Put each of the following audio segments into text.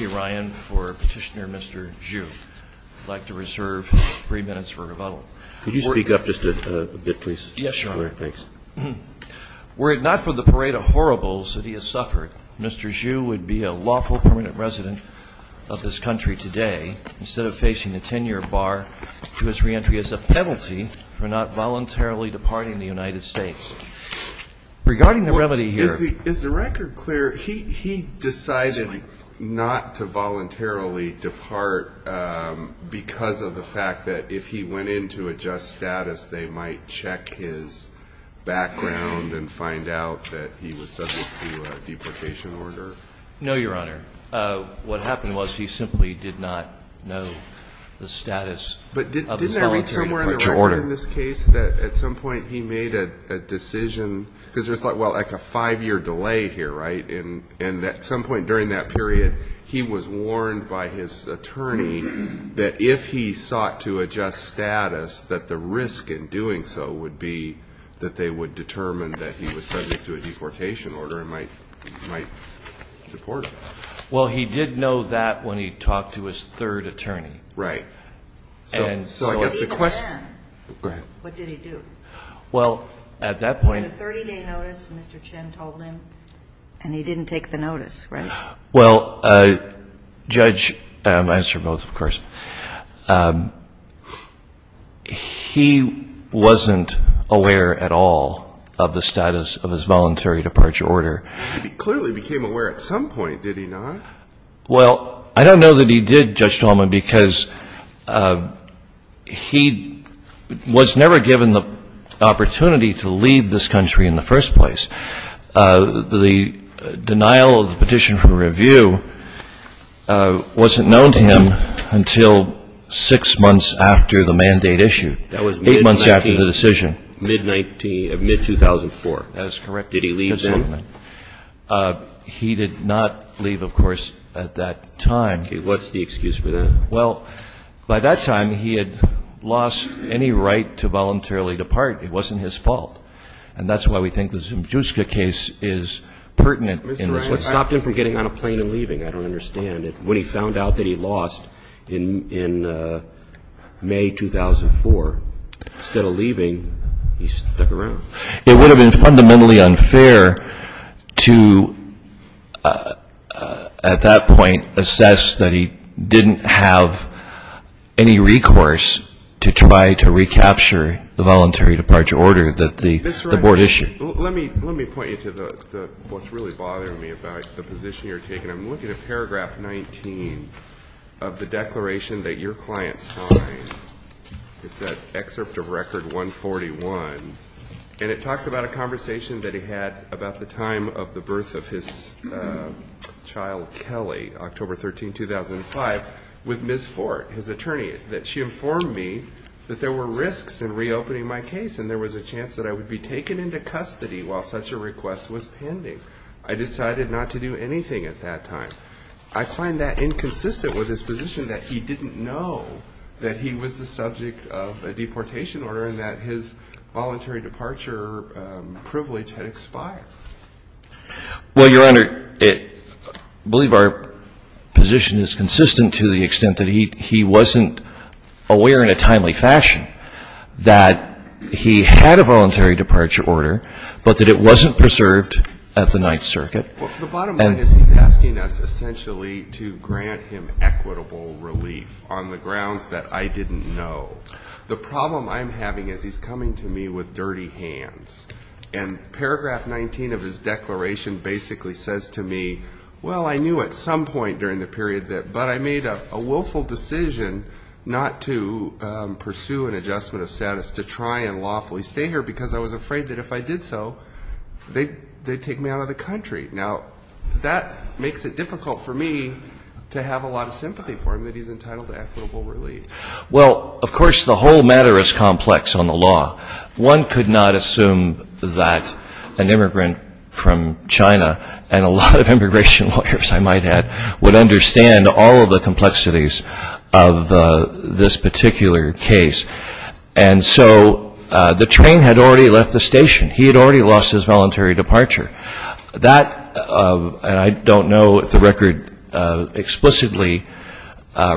Ryan for Petitioner Mr. Zhu. I'd like to reserve three minutes for rebuttal. Could you speak up just a bit, please? Yes, Your Honor. Thanks. Were it not for the parade of horribles that he has suffered, Mr. Zhu would be a lawful permanent resident of this country today, instead of facing a 10-year bar to his reentry as a penalty for not voluntarily departing the United States. Regarding the remedy here Is the record clear? He decided not to voluntarily depart because of the fact that if he went in to adjust status, they might check his background and find out that he was subject to a deprecation order? No, Your Honor. What happened was he simply did not know the status of his voluntary departure order. But didn't I read somewhere in the record in this case that at some point he made a decision, because there's like a five-year delay here, right? And at some point during that period, he was warned by his attorney that if he sought to adjust status, that the risk in doing so would be that they would determine that he was subject to a deportation order and might deport him. Well he did know that when he talked to his third attorney. Right. And so even then, what did he do? Well, at that point He had a 30-day notice, Mr. Chen told him, and he didn't take the notice, right? Well, Judge, I answer both, of course. He wasn't aware at all of the status of his voluntary departure order. He clearly became aware at some point, did he not? Well, I don't know that he did, Judge Tallman, because he was never given the opportunity to leave this country in the first place. The denial of the petition for review wasn't known to him until six months after the mandate issue, eight months after the decision. That was mid-19, mid-2004. That is correct. Did he leave then? He did not leave, of course, at that time. Okay. What's the excuse for that? Well, by that time, he had lost any right to voluntarily depart. It wasn't his fault. And that's why we think the Zemchuska case is pertinent in respect to that. Mr. Wright, I stopped him from getting on a plane and leaving. I don't understand. When he found out that he lost in May 2004, instead of leaving, he stuck around. It would have been fundamentally unfair to, at that point, assess that he didn't have any recourse to try to recapture the voluntary departure order that the board issued. Mr. Wright, let me point you to what's really bothering me about the position you're taking. I'm looking at paragraph 19 of the declaration that your client signed. It's an excerpt of Record 141, and it talks about a conversation that he had about the time of the birth of his child, Kelly, October 13, 2005, with Ms. Ford, his attorney. That she informed me that there were risks in reopening my case, and there was a chance that I would be taken into custody while such a request was pending. I decided not to do anything at that time. I find that inconsistent with his position that he didn't know that he was the subject of a deportation order and that his voluntary departure privilege had expired. Well, Your Honor, I believe our position is consistent to the extent that he wasn't aware in a timely fashion that he had a voluntary departure order, but that it wasn't preserved at the Ninth Circuit. The bottom line is he's asking us essentially to grant him equitable relief on the grounds that I didn't know. The problem I'm having is he's coming to me with dirty hands. And paragraph 19 of his declaration basically says to me, well, I knew at some point during the period that, but I made a willful decision not to pursue an adjustment of status to try and lawfully stay here because I was afraid that if I did so, they'd take me out of the country. Now, that makes it difficult for me to have a lot of sympathy for him that he's entitled to equitable relief. Well, of course, the whole matter is complex on the law. One could not assume that an immigrant from China and a lot of immigration lawyers, I might add, would understand all of the complexities of this particular case. And so the train had already left the station. He had already lost his voluntary departure. That, and I don't know if the record explicitly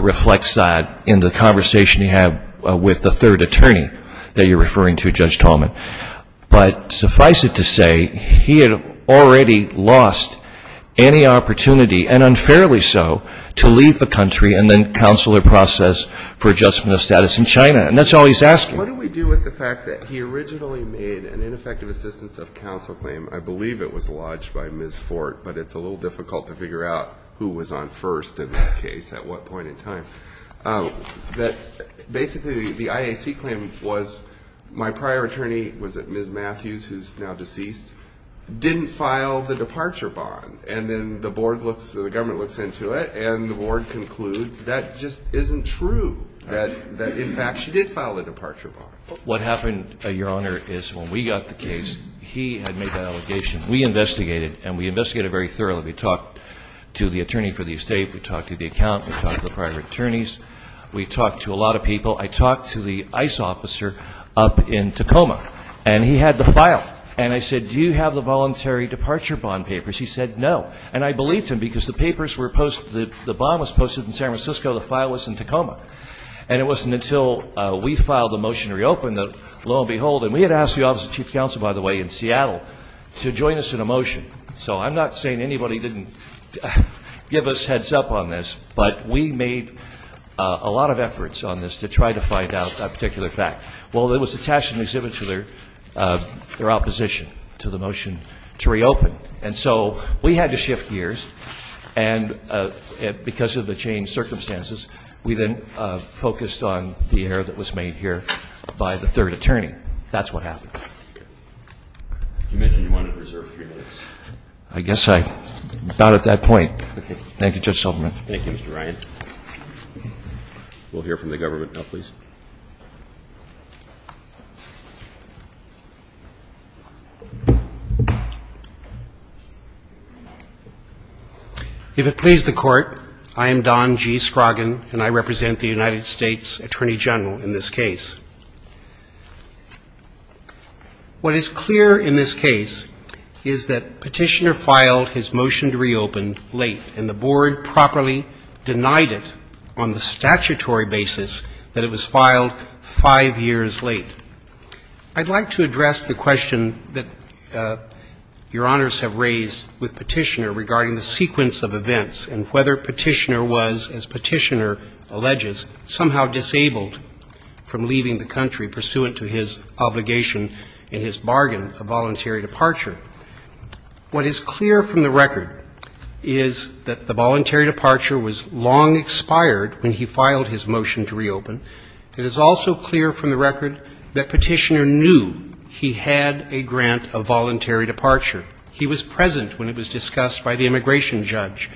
reflects that in the conversation you have with the third attorney that you're referring to, Judge Tallman. But suffice it to say, he had already lost any opportunity, and unfairly so, to leave the country and then counsel a process for adjustment of status in China, and that's all he's asking. What do we do with the fact that he originally made an ineffective assistance of counsel claim? I believe it was lodged by Ms. Fort, but it's a little difficult to figure out who was on first in this case, at what point in time. That basically the IAC claim was my prior attorney, was it Ms. Matthews, who's now deceased, didn't file the departure bond. And then the board looks, the government looks into it, and the board concludes that just isn't true. That, in fact, she did file the departure bond. What happened, Your Honor, is when we got the case, he had made that allegation. We investigated, and we investigated very thoroughly. We talked to the attorney for the estate, we talked to the account, we talked to the prior attorneys, we talked to a lot of people. I talked to the ICE officer up in Tacoma, and he had the file. And I said, do you have the voluntary departure bond papers? He said, no. And I believed him because the papers were posted, the bond was posted in San Francisco, the file was in Tacoma. And it wasn't until we filed the motion to reopen that, lo and behold, and we had asked the Office of Chief Counsel, by the way, in Seattle to join us in a motion. So I'm not saying anybody didn't give us heads up on this, but we made a lot of efforts on this to try to find out that particular fact. Well, it was attached in the exhibit to their opposition to the motion to reopen. And so we had to shift gears, and because of the changed circumstances, we then focused on the error that was made here by the third attorney. That's what happened. You mentioned you wanted to reserve three minutes. I guess I, not at that point. Okay. Thank you, Judge Silverman. Thank you, Mr. Ryan. We'll hear from the government now, please. If it please the court, I am Don G. Scroggin, and I represent the United States Attorney General in this case. What is clear in this case is that Petitioner filed his motion to reopen late, and the board properly denied it on the statutory basis that it was filed late. It was filed five years late. I'd like to address the question that your honors have raised with Petitioner regarding the sequence of events and whether Petitioner was, as Petitioner alleges, somehow disabled from leaving the country pursuant to his obligation in his bargain of voluntary departure. What is clear from the record is that the voluntary departure was long expired when he filed his motion to reopen. It is also clear from the record that Petitioner knew he had a grant of voluntary departure. He was present when it was discussed by the immigration judge.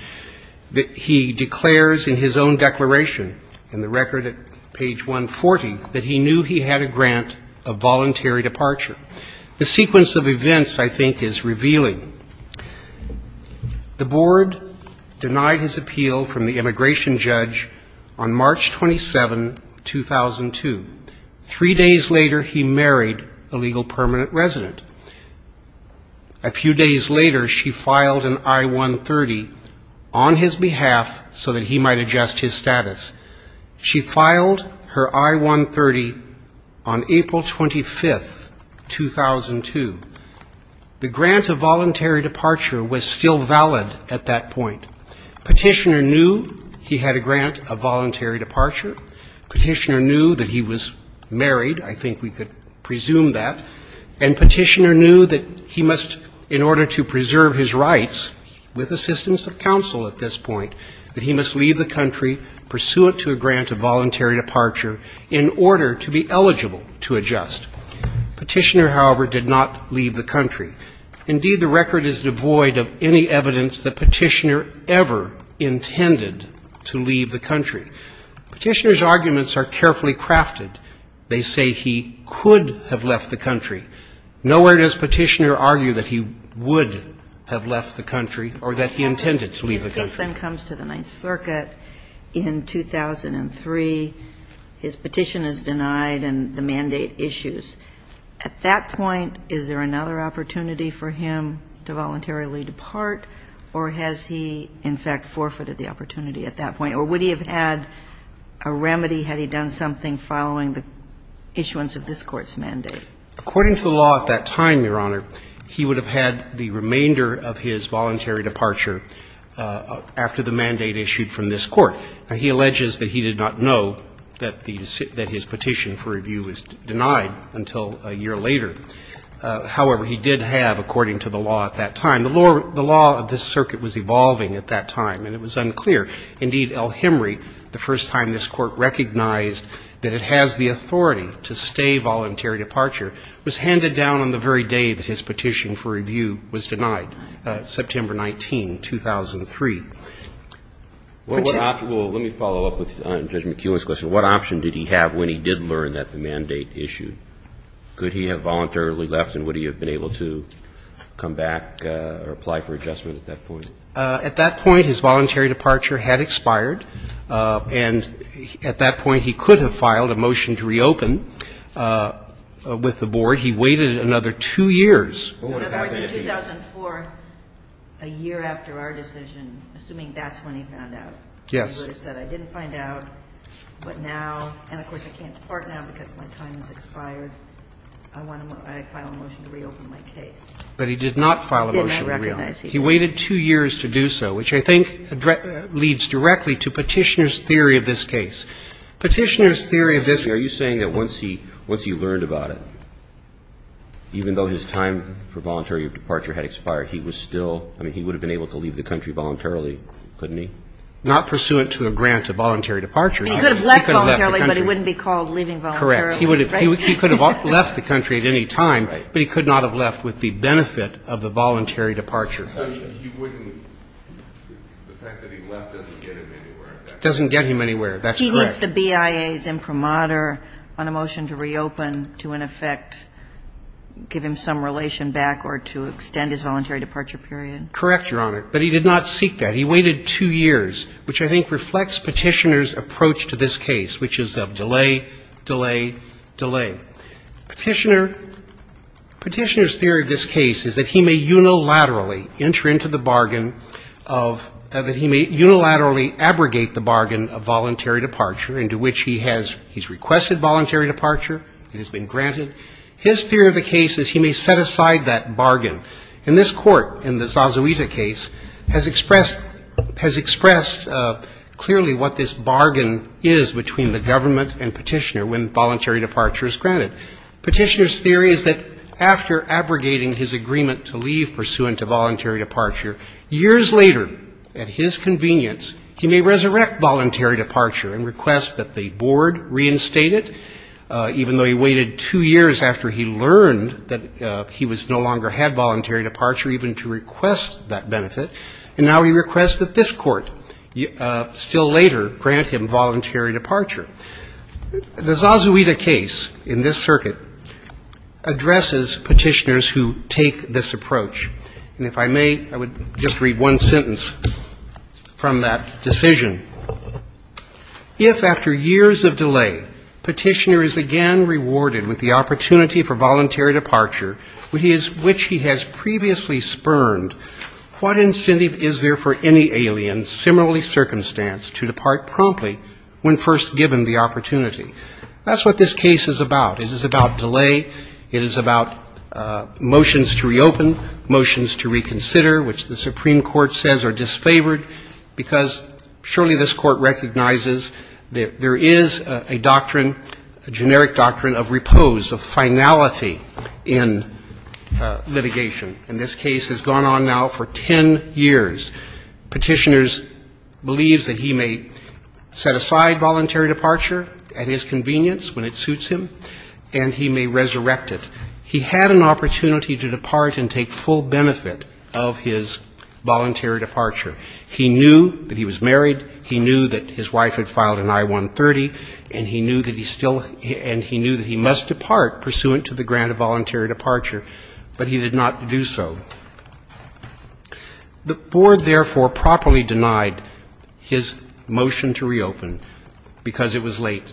He declares in his own declaration in the record at page 140 that he knew he had a grant of voluntary departure. The sequence of events, I think, is revealing. The board denied his appeal from the immigration judge on March 27, 2002. Three days later, he married a legal permanent resident. A few days later, she filed an I-130 on his behalf so that he might adjust his status. She filed her I-130 on April 25, 2002. The grant of voluntary departure was still valid at that point. Petitioner knew he had a grant of voluntary departure. Petitioner knew that he was married. I think we could presume that. And Petitioner knew that he must, in order to preserve his rights with assistance of counsel at this point, that he must leave the country pursuant to a grant of voluntary departure in order to be eligible to adjust. Petitioner, however, did not leave the country. Indeed, the record is devoid of any evidence that Petitioner ever intended to leave the country. Petitioner's arguments are carefully crafted. They say he could have left the country. Nowhere does Petitioner argue that he would have left the country or that he intended to leave the country. The case then comes to the Ninth Circuit in 2003. His petition is denied and the mandate issues. At that point, is there another opportunity for him to voluntarily depart, or has he, in fact, forfeited the opportunity at that point? Or would he have had a remedy had he done something following the issuance of this Court's mandate? According to the law at that time, Your Honor, he would have had the remainder of his voluntary departure after the mandate issued from this Court. Now, he alleges that he did not know that the decision that his petition for review was denied until a year later. However, he did have, according to the law at that time, the law of this circuit was evolving at that time, and it was unclear. Indeed, El-Hemry, the first time this Court recognized that it has the authority to stay voluntary departure, was handed down on the very day that his petition for review was denied. September 19, 2003. Well, let me follow up with Judge McEwen's question. What option did he have when he did learn that the mandate issued? Could he have voluntarily left, and would he have been able to come back or apply for adjustment at that point? At that point, his voluntary departure had expired, and at that point, he could have filed a motion to reopen with the Board. He waited another two years. What would have happened if he had? In other words, in 2004, a year after our decision, assuming that's when he found out, he would have said, I didn't find out, but now, and of course, I can't depart now because my time has expired, I want to file a motion to reopen my case. But he did not file a motion to reopen. He did not recognize he did. He waited two years to do so, which I think leads directly to Petitioner's theory of this case. Petitioner's theory of this case is that he was not aware of the fact that he was not aware of the fact that his time for voluntary departure had expired. He was still – I mean, he would have been able to leave the country voluntarily, couldn't he? Not pursuant to a grant of voluntary departure. He could have left voluntarily, but he wouldn't be called leaving voluntarily. Correct. He would have – he could have left the country at any time, but he could not have left with the benefit of the voluntary departure. So he wouldn't – the fact that he left doesn't get him anywhere, does it? Doesn't get him anywhere. That's correct. Is the BIA's imprimatur on a motion to reopen to, in effect, give him some relation back or to extend his voluntary departure period? Correct, Your Honor. But he did not seek that. He waited two years, which I think reflects Petitioner's approach to this case, which is of delay, delay, delay. Petitioner – Petitioner's theory of this case is that he may unilaterally enter into the bargain of – that he may unilaterally abrogate the bargain of voluntary departure into which he has – he's requested voluntary departure. It has been granted. His theory of the case is he may set aside that bargain. And this Court, in the Zazuita case, has expressed – has expressed clearly what this bargain is between the government and Petitioner when voluntary departure is granted. Petitioner's theory is that after abrogating his agreement to leave pursuant to voluntary departure, years later, at his convenience, he may resurrect voluntary departure and request that the board reinstate it, even though he waited two years after he learned that he was – no longer had voluntary departure even to request that benefit, and now he requests that this Court still later grant him voluntary departure. The Zazuita case in this circuit addresses Petitioner's who take this approach. And if I may, I would just read one sentence from that decision. If, after years of delay, Petitioner is again rewarded with the opportunity for voluntary departure which he has previously spurned, what incentive is there for any alien similarly circumstance to depart promptly when first given the opportunity? That's what this case is about. It is about delay. It is about motions to reopen, motions to reconsider, which the Supreme Court says are disfavored, because surely this Court recognizes that there is a doctrine, a generic doctrine, of repose, of finality in litigation. And this case has gone on now for 10 years. Petitioner believes that he may set aside voluntary departure at his convenience when it suits him, and he may resurrect it. He had an opportunity to depart and take full benefit of his voluntary departure. He knew that he was married. He knew that his wife had filed an I-130, and he knew that he still – and he knew that he must depart pursuant to the grant of voluntary departure, but he did not do so. The Board, therefore, properly denied his motion to reopen because it was late,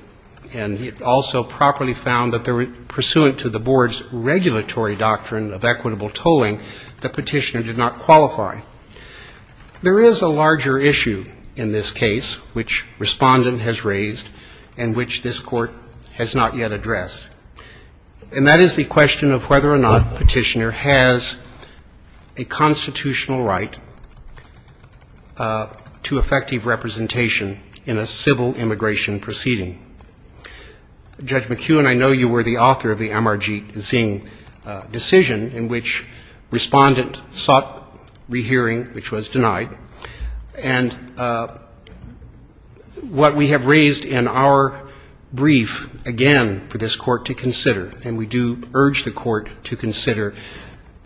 and he also properly found that pursuant to the Board's regulatory doctrine of equitable tolling, the petitioner did not qualify. There is a larger issue in this case, which Respondent has raised and which this Court has not yet addressed, and that is the question of whether or not Petitioner has a constitutional right to effective representation in a civil immigration proceeding. Judge McKeown, I know you were the author of the MRG Zing decision in which Respondent sought rehearing, which was denied. And what we have raised in our brief, again, for this Court to consider, and we do urge the Court to consider,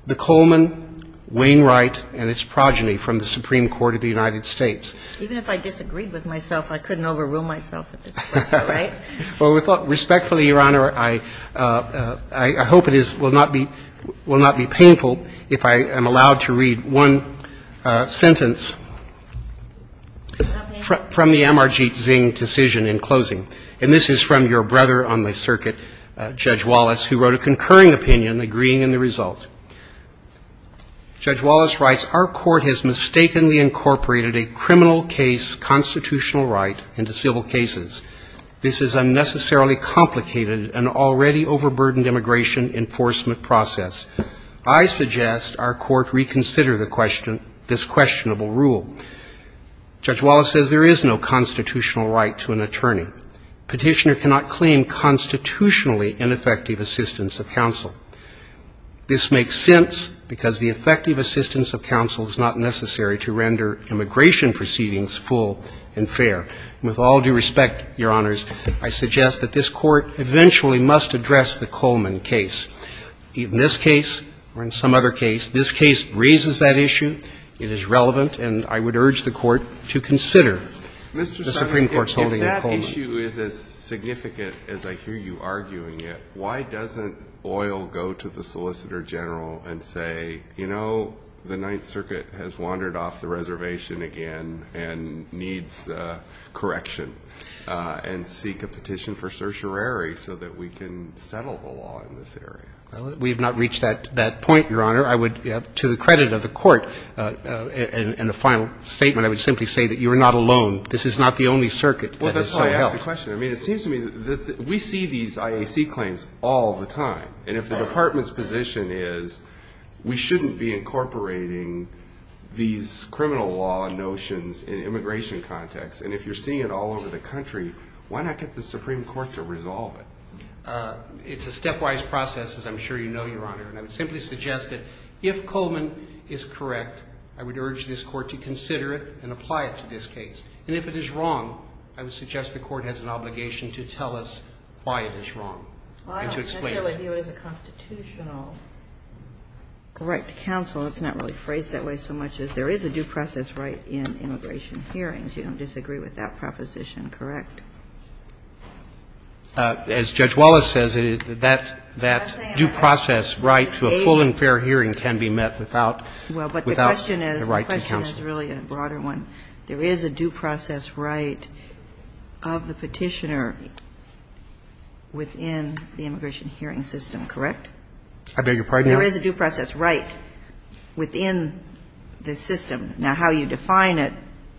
the Coleman, Wainwright, and its progeny from the Supreme Court of the United States. Even if I disagreed with myself, I couldn't overrule myself at this point, right? Well, respectfully, Your Honor, I hope it will not be painful if I am allowed to read one sentence from the MRG Zing decision in closing. And this is from your brother on the circuit, Judge Wallace, who wrote a concurring opinion agreeing in the result. Judge Wallace writes, our Court has mistakenly incorporated a criminal case constitutional right into civil cases. This is unnecessarily complicated, an already overburdened immigration enforcement process. I suggest our Court reconsider the question, this questionable rule. Judge Wallace says there is no constitutional right to an attorney. Petitioner cannot claim constitutionally an effective assistance of counsel. This makes sense because the effective assistance of counsel is not necessary to render immigration proceedings full and fair. With all due respect, Your Honors, I suggest that this Court eventually must address the Coleman case. In this case, or in some other case, this case raises that issue. It is relevant, and I would urge the Court to consider the Supreme Court's holding of Coleman. Mr. Sotomayor, if that issue is as significant as I hear you arguing it, why doesn't Boyle go to the Solicitor General and say, you know, the Ninth Circuit has wandered off the reservation again and needs correction, and seek a petition for certiorari so that we can settle the law in this area? Well, we have not reached that point, Your Honor. I would, to the credit of the Court in the final statement, I would simply say that you are not alone. This is not the only circuit that is so held. Well, that's why I asked the question. I mean, it seems to me that we see these IAC claims all the time, and if the Department's position is we shouldn't be incorporating these criminal law notions in immigration context, and if you're seeing it all over the country, why not get the Supreme Court to resolve it? It's a stepwise process, as I'm sure you know, Your Honor, and I would simply suggest that if Coleman is correct, I would urge this Court to consider it and apply it to this case, and if it is wrong, I would suggest the Court has an obligation to tell us why it is wrong, and to explain it. And I say I view it as a constitutional right to counsel. It's not really phrased that way so much as there is a due process right in immigration hearings. You don't disagree with that proposition, correct? As Judge Wallace says, that due process right to a full and fair hearing can be met without the right to counsel. Well, but the question is, the question is really a broader one. There is a due process right of the Petitioner within the immigration hearing system, correct? I beg your pardon? There is a due process right within the system. Now, how you define it,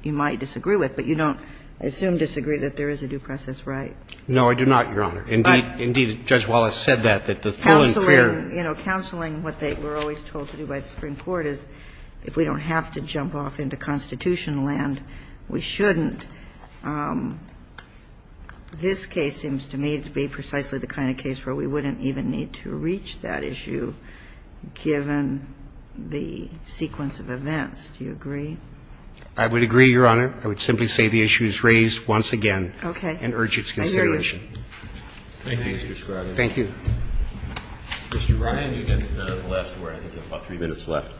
you might disagree with, but you don't, I assume, disagree that there is a due process right? No, I do not, Your Honor. Indeed, Judge Wallace said that, that the full and fair ---- Counseling, you know, counseling, what we're always told to do by the Supreme Court is, if we don't have to jump off into constitutional land, we shouldn't. This case seems to me to be precisely the kind of case where we wouldn't even need to reach that issue given the sequence of events. Do you agree? I would agree, Your Honor. I would simply say the issue is raised once again and urge its consideration. Thank you, Mr. Scruggs. Thank you. Mr. Ryan, you get the last word. I think you have about three minutes left.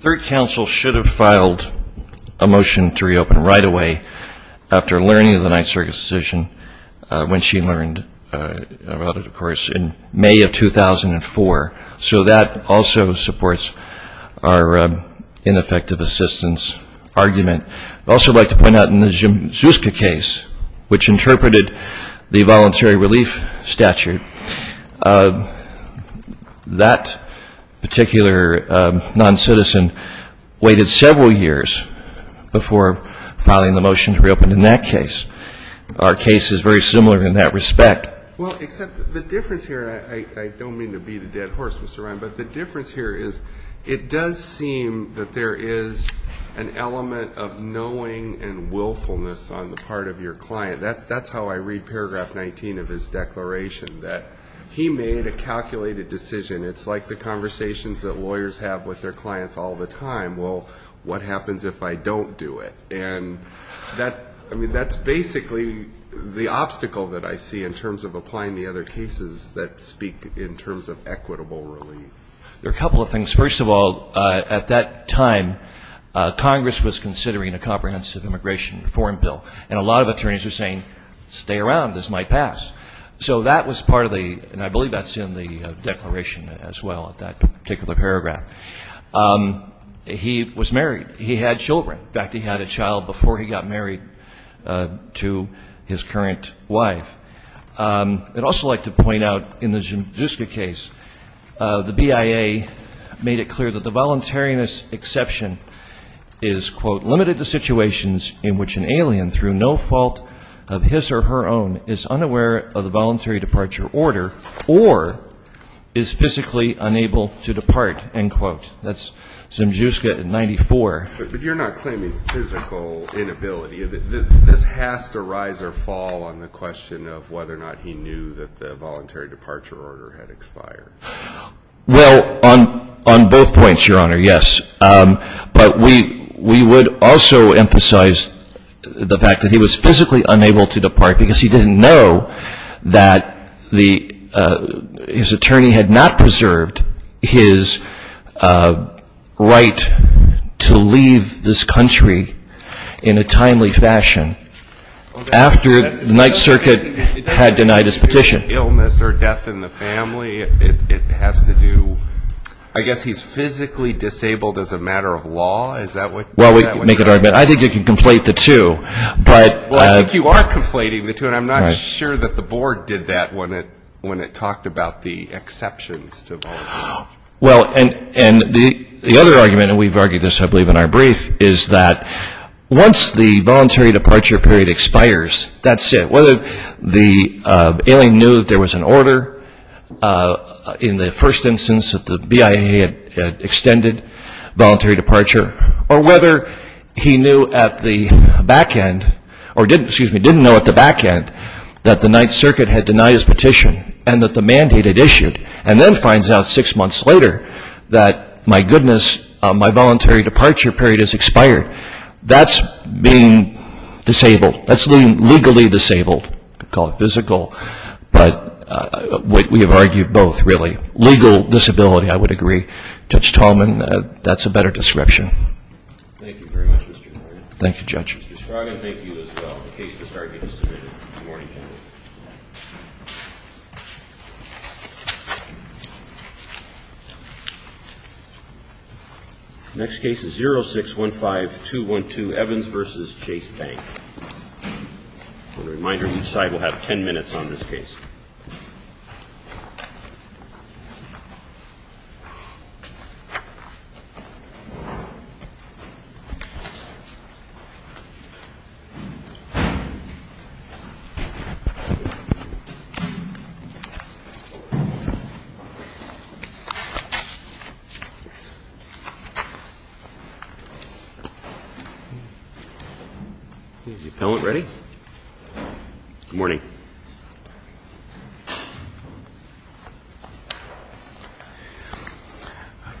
Third counsel should have filed a motion to reopen right away after learning of the Ninth Circuit's decision, when she learned about it, of course, in May of 2004. So that also supports our ineffective assistance argument. I'd also like to point out in the Zuzka case, which interpreted the voluntary relief statute, that particular noncitizen waited several years before filing the motion to reopen in that case. Our case is very similar in that respect. Well, except the difference here, and I don't mean to beat a dead horse, Mr. Ryan, but the difference here is it does seem that there is an element of knowing and willfulness on the part of your client. That's how I read paragraph 19 of his declaration, that he made a calculated decision. It's like the conversations that lawyers have with their clients all the time. Well, what happens if I don't do it? And that's basically the obstacle that I see in terms of applying the other cases that speak in terms of equitable relief. There are a couple of things. First of all, at that time, Congress was considering a comprehensive immigration reform bill, and a lot of attorneys were saying, stay around, this might pass. So that was part of the, and I believe that's in the declaration as well, that particular paragraph. He was married. He had children. In fact, he had a child before he got married to his current wife. I'd also like to point out in the Zuzka case, the BIA made it clear that the person who is an alien through no fault of his or her own is unaware of the voluntary departure order or is physically unable to depart, end quote. That's Zuzka in 94. But you're not claiming physical inability. This has to rise or fall on the question of whether or not he knew that the voluntary departure order had expired. Well, on both points, Your Honor, yes. But we would also emphasize the fact that he was physically unable to depart because he didn't know that his attorney had not preserved his right to leave this country in a timely fashion after the Ninth Circuit had denied his petition. Illness or death in the family, it has to do, I guess he's physically disabled as a matter of law, is that what you're saying? Well, I think you can conflate the two. Well, I think you are conflating the two, and I'm not sure that the Board did that when it talked about the exceptions to voluntary departure. Well, and the other argument, and we've argued this I believe in our brief, is that once the voluntary departure period expires, that's it. Whether the alien knew that there was an order in the first instance that the BIA had extended voluntary departure, or whether he knew at the back end, or didn't know at the back end that the Ninth Circuit had denied his petition and that the mandate had issued, and then finds out six months later that, my goodness, my voluntary departure period has expired. That's being disabled. That's legally disabled. We call it physical, but we have argued both, really. Legal disability, I would agree. Judge Tallman, that's a better description. Thank you very much, Mr. Scroggins. Thank you, Judge. Mr. Scroggins, thank you as well. The case is now being submitted. Good morning, gentlemen. Next case is 0615212, Evans v. Chase Bank. A reminder, each side will have ten minutes on this case. Thank you. Is the appellant ready? Good morning. Good morning.